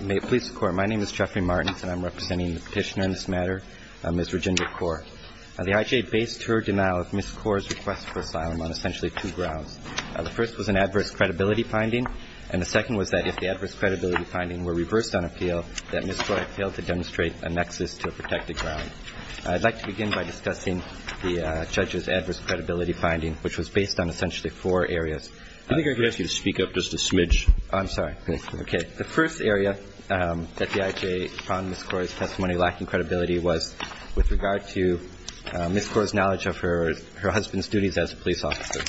May it please the Court, my name is Jeffrey Martins, and I'm representing the petitioner in this matter, Ms. Regina Kaur. The IJ based her denial of Ms. Kaur's request for asylum on essentially two grounds. The first was an adverse credibility finding, and the second was that if the adverse credibility finding were reversed on appeal, that Ms. Kaur had failed to demonstrate a nexus to protect the ground. I'd like to begin by discussing the judge's adverse credibility finding, which was based on essentially four areas. I think I could ask you to speak up just a smidge. I'm sorry. Okay. The first area that the IJ found Ms. Kaur's testimony lacking credibility was with regard to Ms. Kaur's knowledge of her husband's duties as a police officer.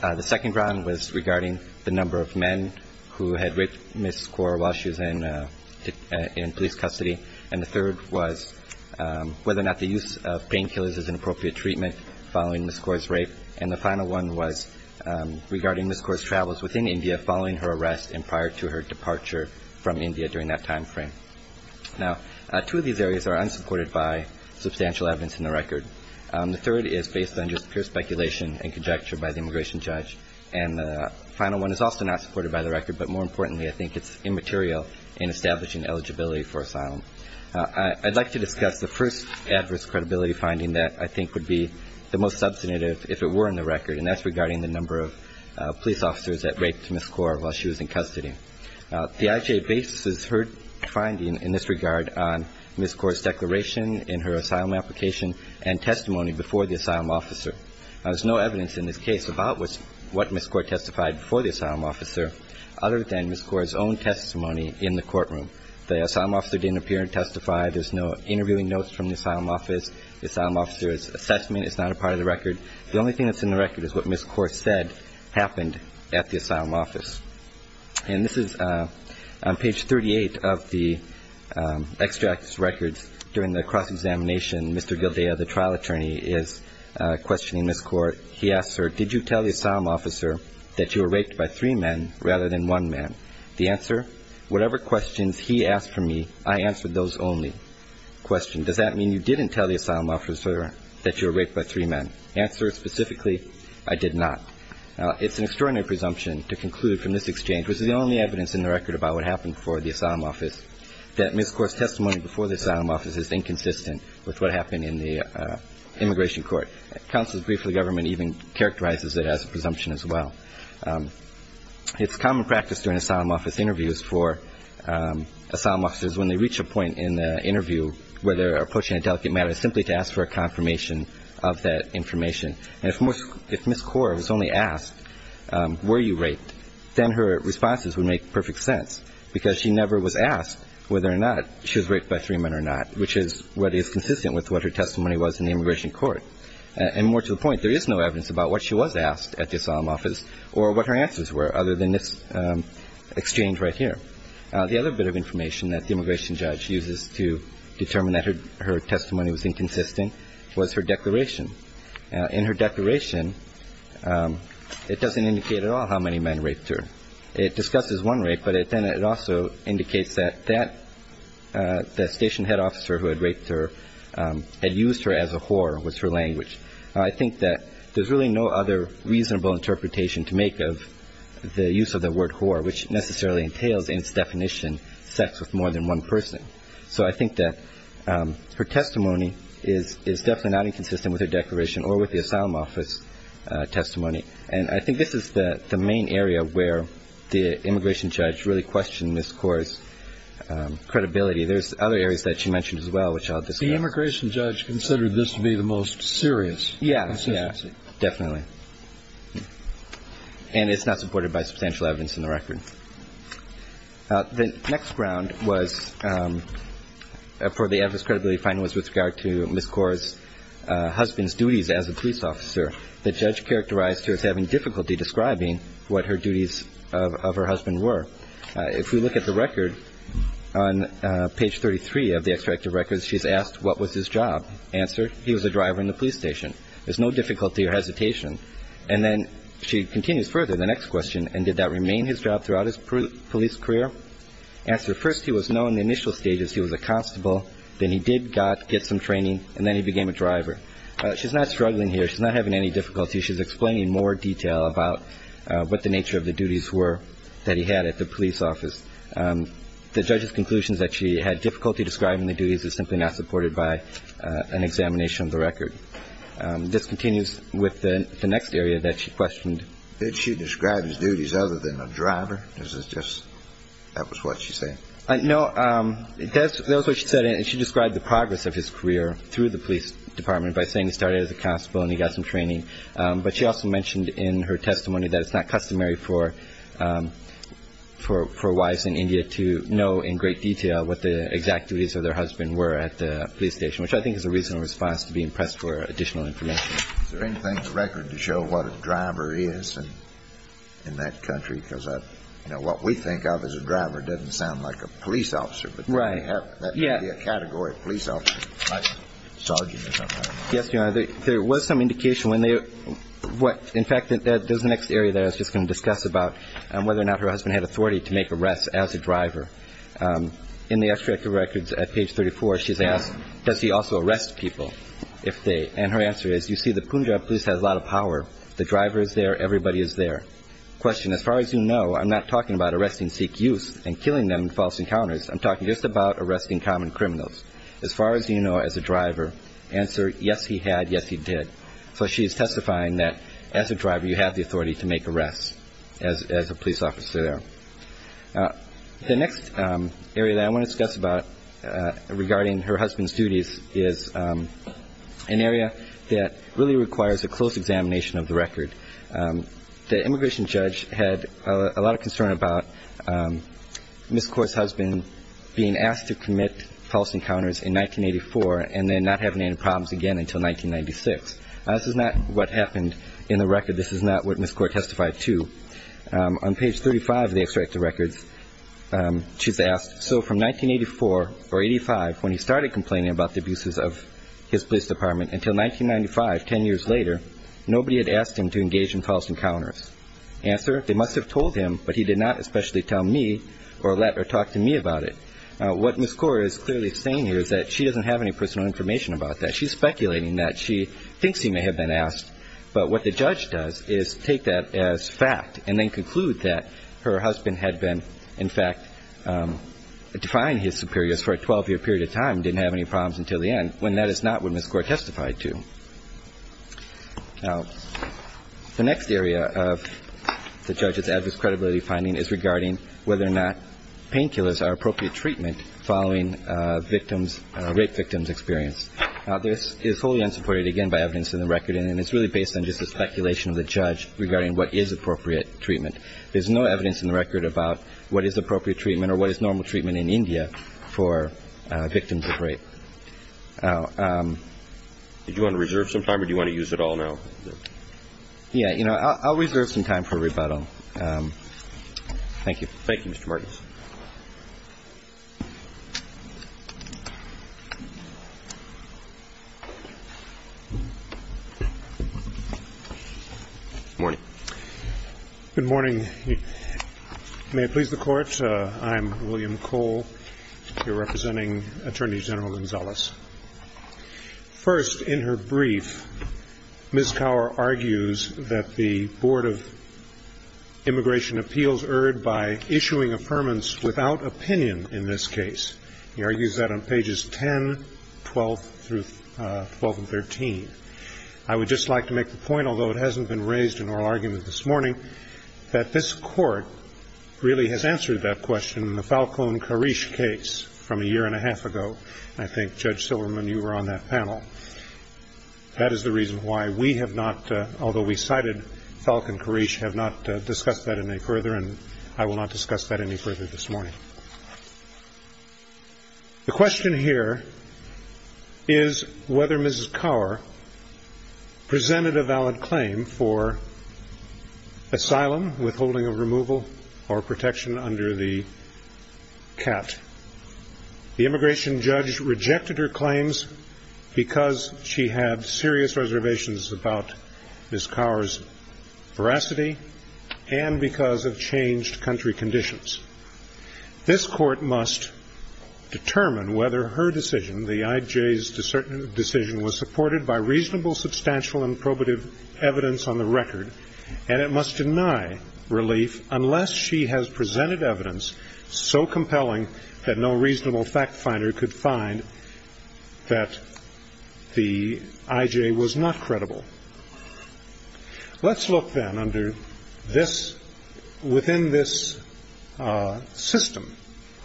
The second ground was regarding the number of men who had raped Ms. Kaur while she was in police custody. And the third was whether or not the use of painkillers is an appropriate treatment following Ms. Kaur's rape. And the final one was regarding Ms. Kaur's travels within India following her arrest and prior to her departure from India during that timeframe. Now, two of these areas are unsupported by substantial evidence in the record. The third is based on just pure speculation and conjecture by the immigration judge. And the final one is also not supported by the record, but more importantly, I think it's immaterial in establishing eligibility for asylum. I'd like to discuss the first adverse credibility finding that I think would be the most substantive if it were in the record, and that's regarding the number of police officers that raped Ms. Kaur while she was in custody. The IJ bases her finding in this regard on Ms. Kaur's declaration in her asylum application and testimony before the asylum officer. There's no evidence in this case about what Ms. Kaur testified before the asylum officer, other than Ms. Kaur's own testimony in the courtroom. The asylum officer didn't appear and testify. There's no interviewing notes from the asylum office. The asylum officer's assessment is not a part of the record. The only thing that's in the record is what Ms. Kaur said happened at the asylum office. And this is on page 38 of the extracts records during the cross-examination. Mr. Gildaya, the trial attorney, is questioning Ms. Kaur. He asks her, did you tell the asylum officer that you were raped by three men rather than one man? The answer, whatever questions he asked for me, I answered those only. Question, does that mean you didn't tell the asylum officer that you were raped by three men? Answer, specifically, I did not. It's an extraordinary presumption to conclude from this exchange, which is the only evidence in the record about what happened before the asylum office, that Ms. Kaur's testimony before the asylum office is inconsistent with what happened in the immigration court. Counsel's brief for the government even characterizes it as a presumption as well. It's common practice during asylum office interviews for asylum officers, when they reach a point in the interview where they're approaching a delicate matter, simply to ask for a confirmation of that information. And if Ms. Kaur was only asked, were you raped, then her responses would make perfect sense, because she never was asked whether or not she was raped by three men or not, which is what is consistent with what her testimony was in the immigration court. And more to the point, there is no evidence about what she was asked at the asylum office or what her answers were other than this exchange right here. The other bit of information that the immigration judge uses to determine that her testimony was inconsistent was her declaration. In her declaration, it doesn't indicate at all how many men raped her. It discusses one rape, but then it also indicates that that station head officer who had raped her and used her as a whore was her language. I think that there's really no other reasonable interpretation to make of the use of the word whore, which necessarily entails in its definition sex with more than one person. So I think that her testimony is definitely not inconsistent with her declaration or with the asylum office testimony. And I think this is the main area where the immigration judge really questioned Ms. Kaur's credibility. There's other areas that she mentioned as well, which I'll discuss. The immigration judge considered this to be the most serious. Yes, yes, definitely. And it's not supported by substantial evidence in the record. The next ground was for the evidence credibility finding was with regard to Ms. Kaur's husband's duties as a police officer. The judge characterized her as having difficulty describing what her duties of her husband were. If we look at the record on page 33 of the extractive records, she's asked, what was his job? Answer, he was a driver in the police station. There's no difficulty or hesitation. And then she continues further, the next question, and did that remain his job throughout his police career? Answer, first he was known in the initial stages. He was a constable. Then he did get some training, and then he became a driver. She's not struggling here. She's not having any difficulty. She's explaining in more detail about what the nature of the duties were that he had at the police office. The judge's conclusions that she had difficulty describing the duties is simply not supported by an examination of the record. This continues with the next area that she questioned. Did she describe his duties other than a driver? Or is it just that was what she said? No, that was what she said. She described the progress of his career through the police department by saying he started as a constable and he got some training, but she also mentioned in her testimony that it's not customary for wives in India to know in great detail what the exact duties of their husband were at the police station, which I think is a reasonable response to be impressed for additional information. Is there anything in the record to show what a driver is in that country? Because what we think of as a driver doesn't sound like a police officer, but that would be a category of police officer, like sergeant or something like that. Yes, Your Honor, there was some indication when they were – in fact, there's the next area that I was just going to discuss about whether or not her husband had authority to make arrests as a driver. In the extract of records at page 34, she's asked, does he also arrest people if they – and her answer is, you see, the Punjab police has a lot of power. The driver is there. Everybody is there. Question, as far as you know, I'm not talking about arresting Sikh youth and killing them in false encounters. I'm talking just about arresting common criminals. As far as you know, as a driver, answer, yes, he had, yes, he did. So she is testifying that as a driver, you have the authority to make arrests as a police officer there. The next area that I want to discuss about regarding her husband's duties is an area that really requires a close examination of the record. The immigration judge had a lot of concern about Ms. Kaur's husband being asked to commit false encounters in 1984 and then not having any problems again until 1996. This is not what happened in the record. This is not what Ms. Kaur testified to. On page 35 of the extract of records, she's asked, so from 1984 or 85, when he started complaining about the abuses of his police department until 1995, 10 years later, nobody had asked him to engage in false encounters. Answer, they must have told him, but he did not especially tell me or let her talk to me about it. What Ms. Kaur is clearly saying here is that she doesn't have any personal information about that. She's speculating that. She thinks he may have been asked, but what the judge does is take that as fact and then conclude that her husband had been, in fact, defying his superiors for a 12-year period of time and didn't have any problems until the end, when that is not what Ms. Kaur testified to. Now, the next area of the judge's adverse credibility finding is regarding whether or not painkillers are appropriate treatment following victims, rape victims' experience. This is wholly unsupported, again, by evidence in the record, and it's really based on just a speculation of the judge regarding what is appropriate treatment. There's no evidence in the record about what is appropriate treatment or what is normal treatment in India for victims of rape. Did you want to reserve some time or do you want to use it all now? Yeah, you know, I'll reserve some time for rebuttal. Thank you. Thank you, Mr. Martins. Good morning. Good morning. May it please the Court, I'm William Cole. You're representing Attorney General Gonzalez. First, in her brief, Ms. Kaur argues that the Board of Immigration Appeals erred by issuing affirmance without opinion in this case. She argues that on pages 10, 12, through 12 and 13. I would just like to make the point, although it hasn't been raised in oral argument this morning, that this Court really has answered that question in the Falcon-Karish case from a year and a half ago. I think, Judge Silverman, you were on that panel. That is the reason why we have not, although we cited Falcon-Karish, have not discussed that any further, and I will not discuss that any further this morning. The question here is whether Ms. Kaur presented a valid claim for asylum, withholding of removal, or protection under the CAT. The immigration judge rejected her claims because she had serious reservations about Ms. Kaur's veracity and because of changed country conditions. This Court must determine whether her decision, the IJ's decision, was supported by reasonable, substantial, and probative evidence on the record, and it must deny relief unless she has presented evidence so compelling that no reasonable fact finder could find that the IJ was not credible. Let's look then under this, within this system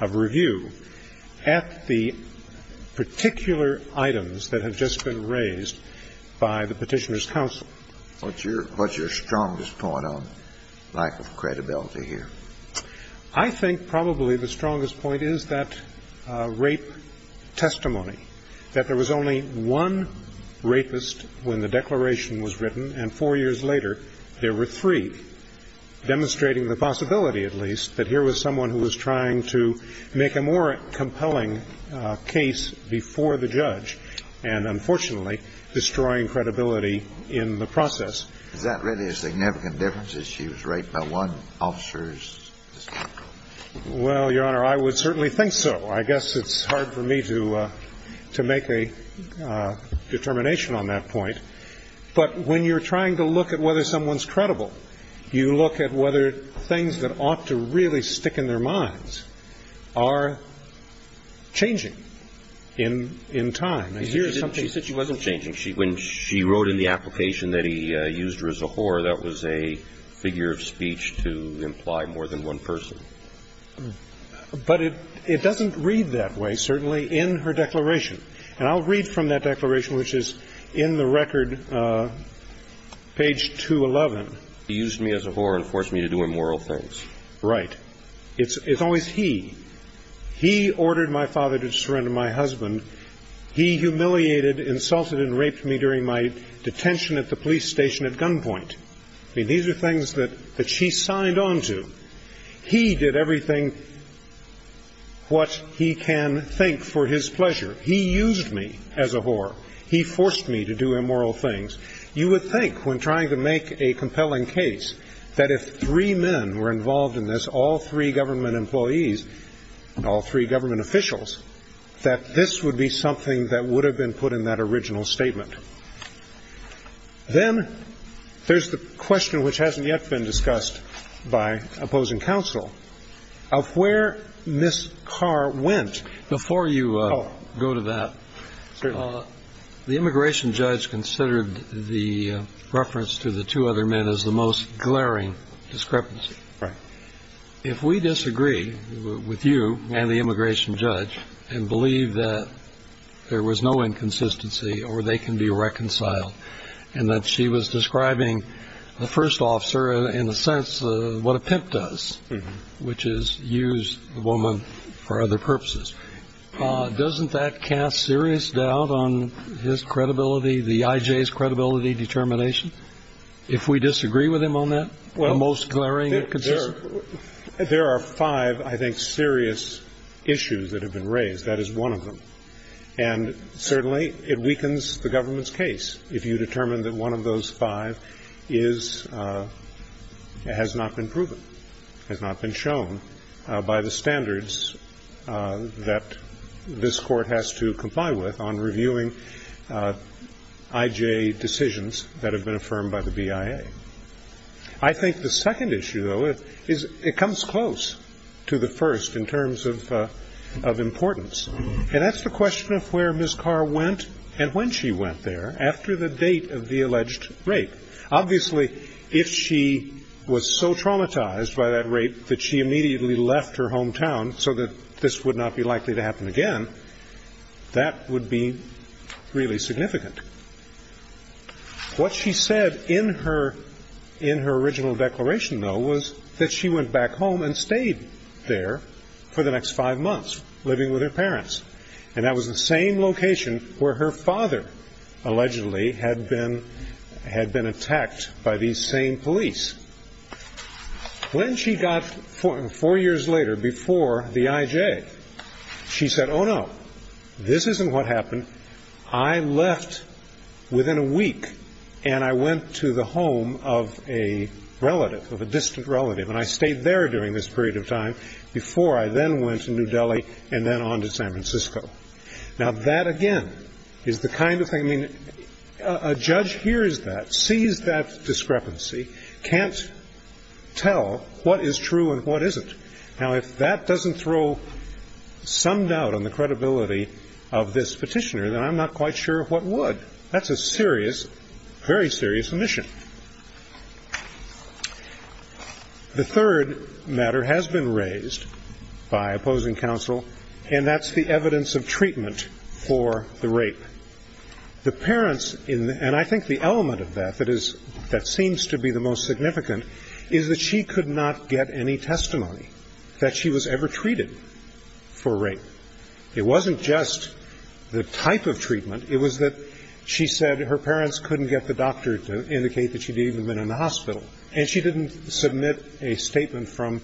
of review, at the particular items that have just been raised by the Petitioner's Counsel. What's your strongest point on lack of credibility here? I think probably the strongest point is that rape testimony, that there was only one rapist when the declaration was written, and four years later there were three, demonstrating the possibility, at least, that here was someone who was trying to make a more compelling case before the judge and, unfortunately, destroying credibility in the process. Is that really a significant difference, that she was raped by one officer's testimony? Well, Your Honor, I would certainly think so. I guess it's hard for me to make a determination on that point. But when you're trying to look at whether someone's credible, you look at whether things that ought to really stick in their minds are changing in time. She said she wasn't changing. When she wrote in the application that he used her as a whore, that was a figure of speech to imply more than one person. But it doesn't read that way, certainly, in her declaration. And I'll read from that declaration, which is in the record, page 211. He used me as a whore and forced me to do immoral things. Right. It's always he. He ordered my father to surrender my husband. He humiliated, insulted, and raped me during my detention at the police station at gunpoint. I mean, these are things that she signed on to. He did everything what he can think for his pleasure. He used me as a whore. He forced me to do immoral things. You would think when trying to make a compelling case that if three men were involved in this, all three government employees, all three government officials, that this would be something that would have been put in that original statement. Then there's the question, which hasn't yet been discussed by opposing counsel, of where Ms. Carr went. Before you go to that, the immigration judge considered the reference to the two other men as the most glaring discrepancy. Right. If we disagree with you and the immigration judge and believe that there was no inconsistency or they can be reconciled and that she was describing the first officer in the sense of what a pimp does, which is use the woman for other purposes, doesn't that cast serious doubt on his credibility, the IJ's credibility determination? If we disagree with him on that, the most glaring inconsistency? There are five, I think, serious issues that have been raised. That is one of them. And certainly it weakens the government's case if you determine that one of those five has not been proven, has not been shown by the standards that this court has to comply with on reviewing IJ decisions that have been affirmed by the BIA. I think the second issue, though, is it comes close to the first in terms of importance. And that's the question of where Ms. Carr went and when she went there after the date of the alleged rape. Obviously, if she was so traumatized by that rape that she immediately left her hometown so that this would not be likely to happen again, that would be really significant. What she said in her original declaration, though, was that she went back home and stayed there for the next five months, living with her parents. And that was the same location where her father allegedly had been attacked by these same police. When she got, four years later, before the IJ, she said, oh, no, this isn't what happened. I left within a week and I went to the home of a relative, of a distant relative, and I stayed there during this period of time before I then went to New Delhi and then on to San Francisco. Now, that, again, is the kind of thing, I mean, a judge hears that, sees that discrepancy, can't tell what is true and what isn't. Now, if that doesn't throw some doubt on the credibility of this petitioner, then I'm not quite sure what would. That's a serious, very serious omission. The third matter has been raised by opposing counsel, and that's the evidence of treatment for the rape. The parents, and I think the element of that that is, that seems to be the most significant, is that she could not get any testimony that she was ever treated for rape. It wasn't just the type of treatment. It was that she said her parents couldn't get the doctor to indicate that she'd even been in the hospital. And she didn't submit a statement from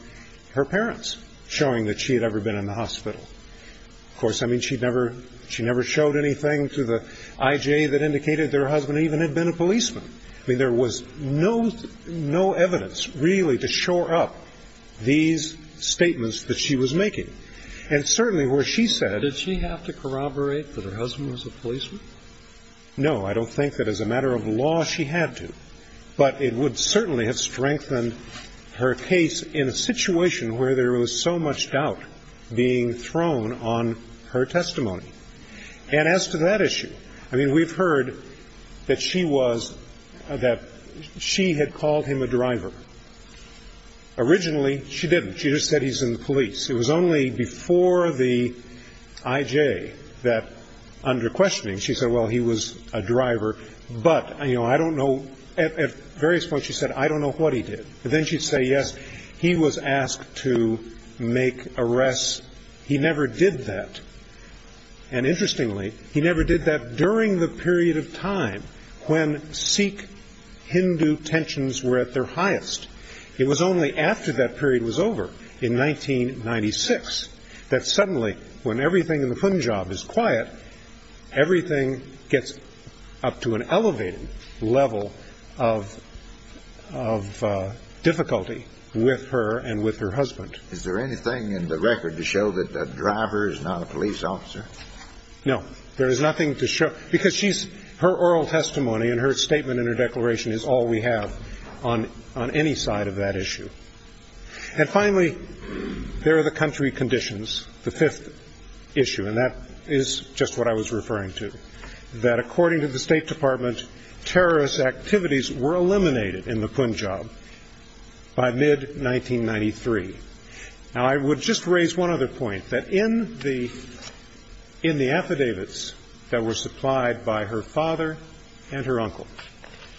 her parents showing that she had ever been in the hospital. Of course, I mean, she never showed anything to the I.J. that indicated their husband even had been a policeman. I mean, there was no evidence, really, to shore up these statements that she was making. And certainly where she said ---- Did she have to corroborate that her husband was a policeman? No. I don't think that as a matter of law she had to. But it would certainly have strengthened her case in a situation where there was so much doubt being thrown on her testimony. And as to that issue, I mean, we've heard that she was ---- that she had called him a driver. Originally, she didn't. She just said he's in the police. It was only before the I.J. that, under questioning, she said, well, he was a driver. But, you know, I don't know ---- at various points she said, I don't know what he did. But then she'd say, yes, he was asked to make arrests. He never did that. And interestingly, he never did that during the period of time when Sikh-Hindu tensions were at their highest. It was only after that period was over in 1996 that suddenly, when everything in the Punjab is quiet, everything gets up to an elevated level of difficulty with her and with her husband. Is there anything in the record to show that a driver is not a police officer? No. There is nothing to show. Because she's ---- her oral testimony and her statement and her declaration is all we have on any side of that issue. And finally, there are the country conditions, the fifth issue, and that is just what I was referring to, that according to the State Department, terrorist activities were eliminated in the Punjab by mid-1993. Now, I would just raise one other point, that in the affidavits that were supplied by her father and her uncle,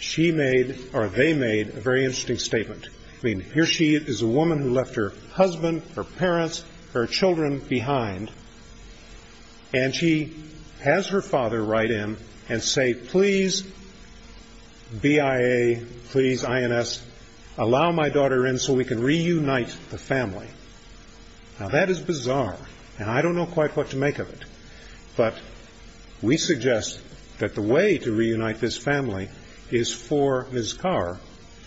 she made or they made a very interesting statement. I mean, here she is, a woman who left her husband, her parents, her children behind, and she has her father write in and say, please, BIA, please, INS, allow my daughter in so we can reunite the family. Now, that is bizarre, and I don't know quite what to make of it. But we suggest that the way to reunite this family is for Ms. Kaur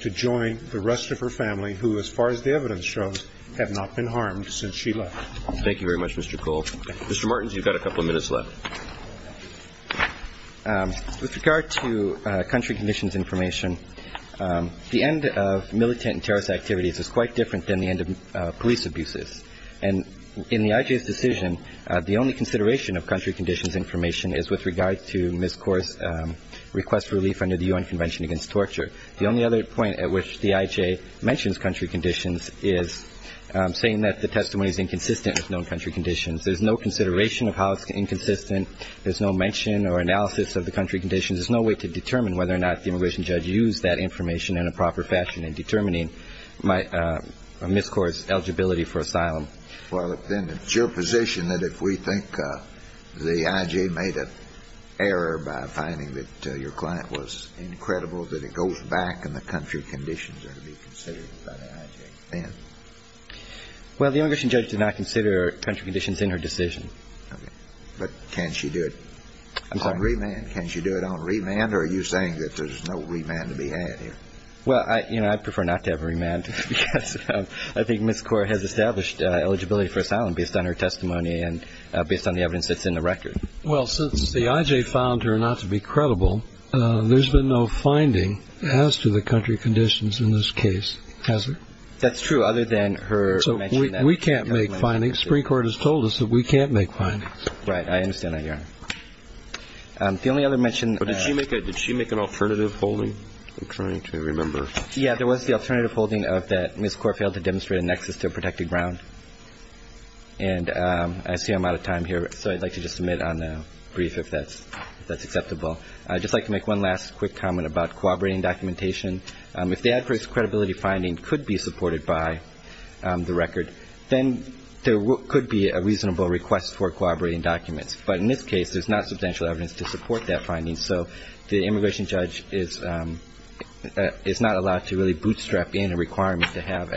to join the rest of her family, who, as far as the evidence shows, have not been harmed since she left. Thank you very much, Mr. Cole. Mr. Martins, you've got a couple of minutes left. With regard to country conditions information, the end of militant and terrorist activities is quite different than the end of police abuses. And in the IJ's decision, the only consideration of country conditions information is with regard to Ms. Kaur's request for relief under the U.N. Convention Against Torture. The only other point at which the IJ mentions country conditions is saying that the testimony is inconsistent with known country conditions. There's no consideration of how it's inconsistent. There's no mention or analysis of the country conditions. There's no way to determine whether or not the immigration judge used that information in a proper fashion in determining Ms. Kaur's eligibility for asylum. Well, then it's your position that if we think the IJ made an error by finding that your client was incredible, that it goes back and the country conditions are to be considered by the IJ then? Well, the immigration judge did not consider country conditions in her decision. Okay. But can she do it on remand? Can she do it on remand, or are you saying that there's no remand to be had here? Well, you know, I'd prefer not to have remand because I think Ms. Kaur has established eligibility for asylum based on her testimony and based on the evidence that's in the record. Well, since the IJ found her not to be credible, there's been no finding as to the country conditions in this case, has there? That's true, other than her mention that. So we can't make findings. Supreme Court has told us that we can't make findings. Right. I understand that, Your Honor. The only other mention that Ms. Kaur made is that she made an alternative holding. I'm trying to remember. Yeah, there was the alternative holding of that Ms. Kaur failed to demonstrate a nexus to protect the ground. And I see I'm out of time here, so I'd like to just submit on a brief if that's acceptable. I'd just like to make one last quick comment about cooperating documentation. If the adverse credibility finding could be supported by the record, then there could be a reasonable request for cooperating documents. But in this case, there's not substantial evidence to support that finding. So the immigration judge is not allowed to really bootstrap in a requirement to have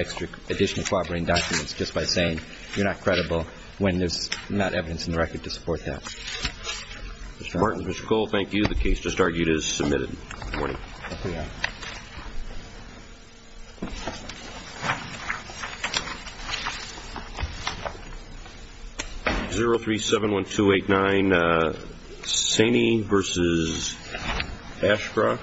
additional cooperating documents just by saying you're not credible when there's not evidence in the record to support that. Mr. Martins, Mr. Cole, thank you. The case just argued is submitted. Thank you, Your Honor. Thank you. 0371289, Saney v. Ashcroft.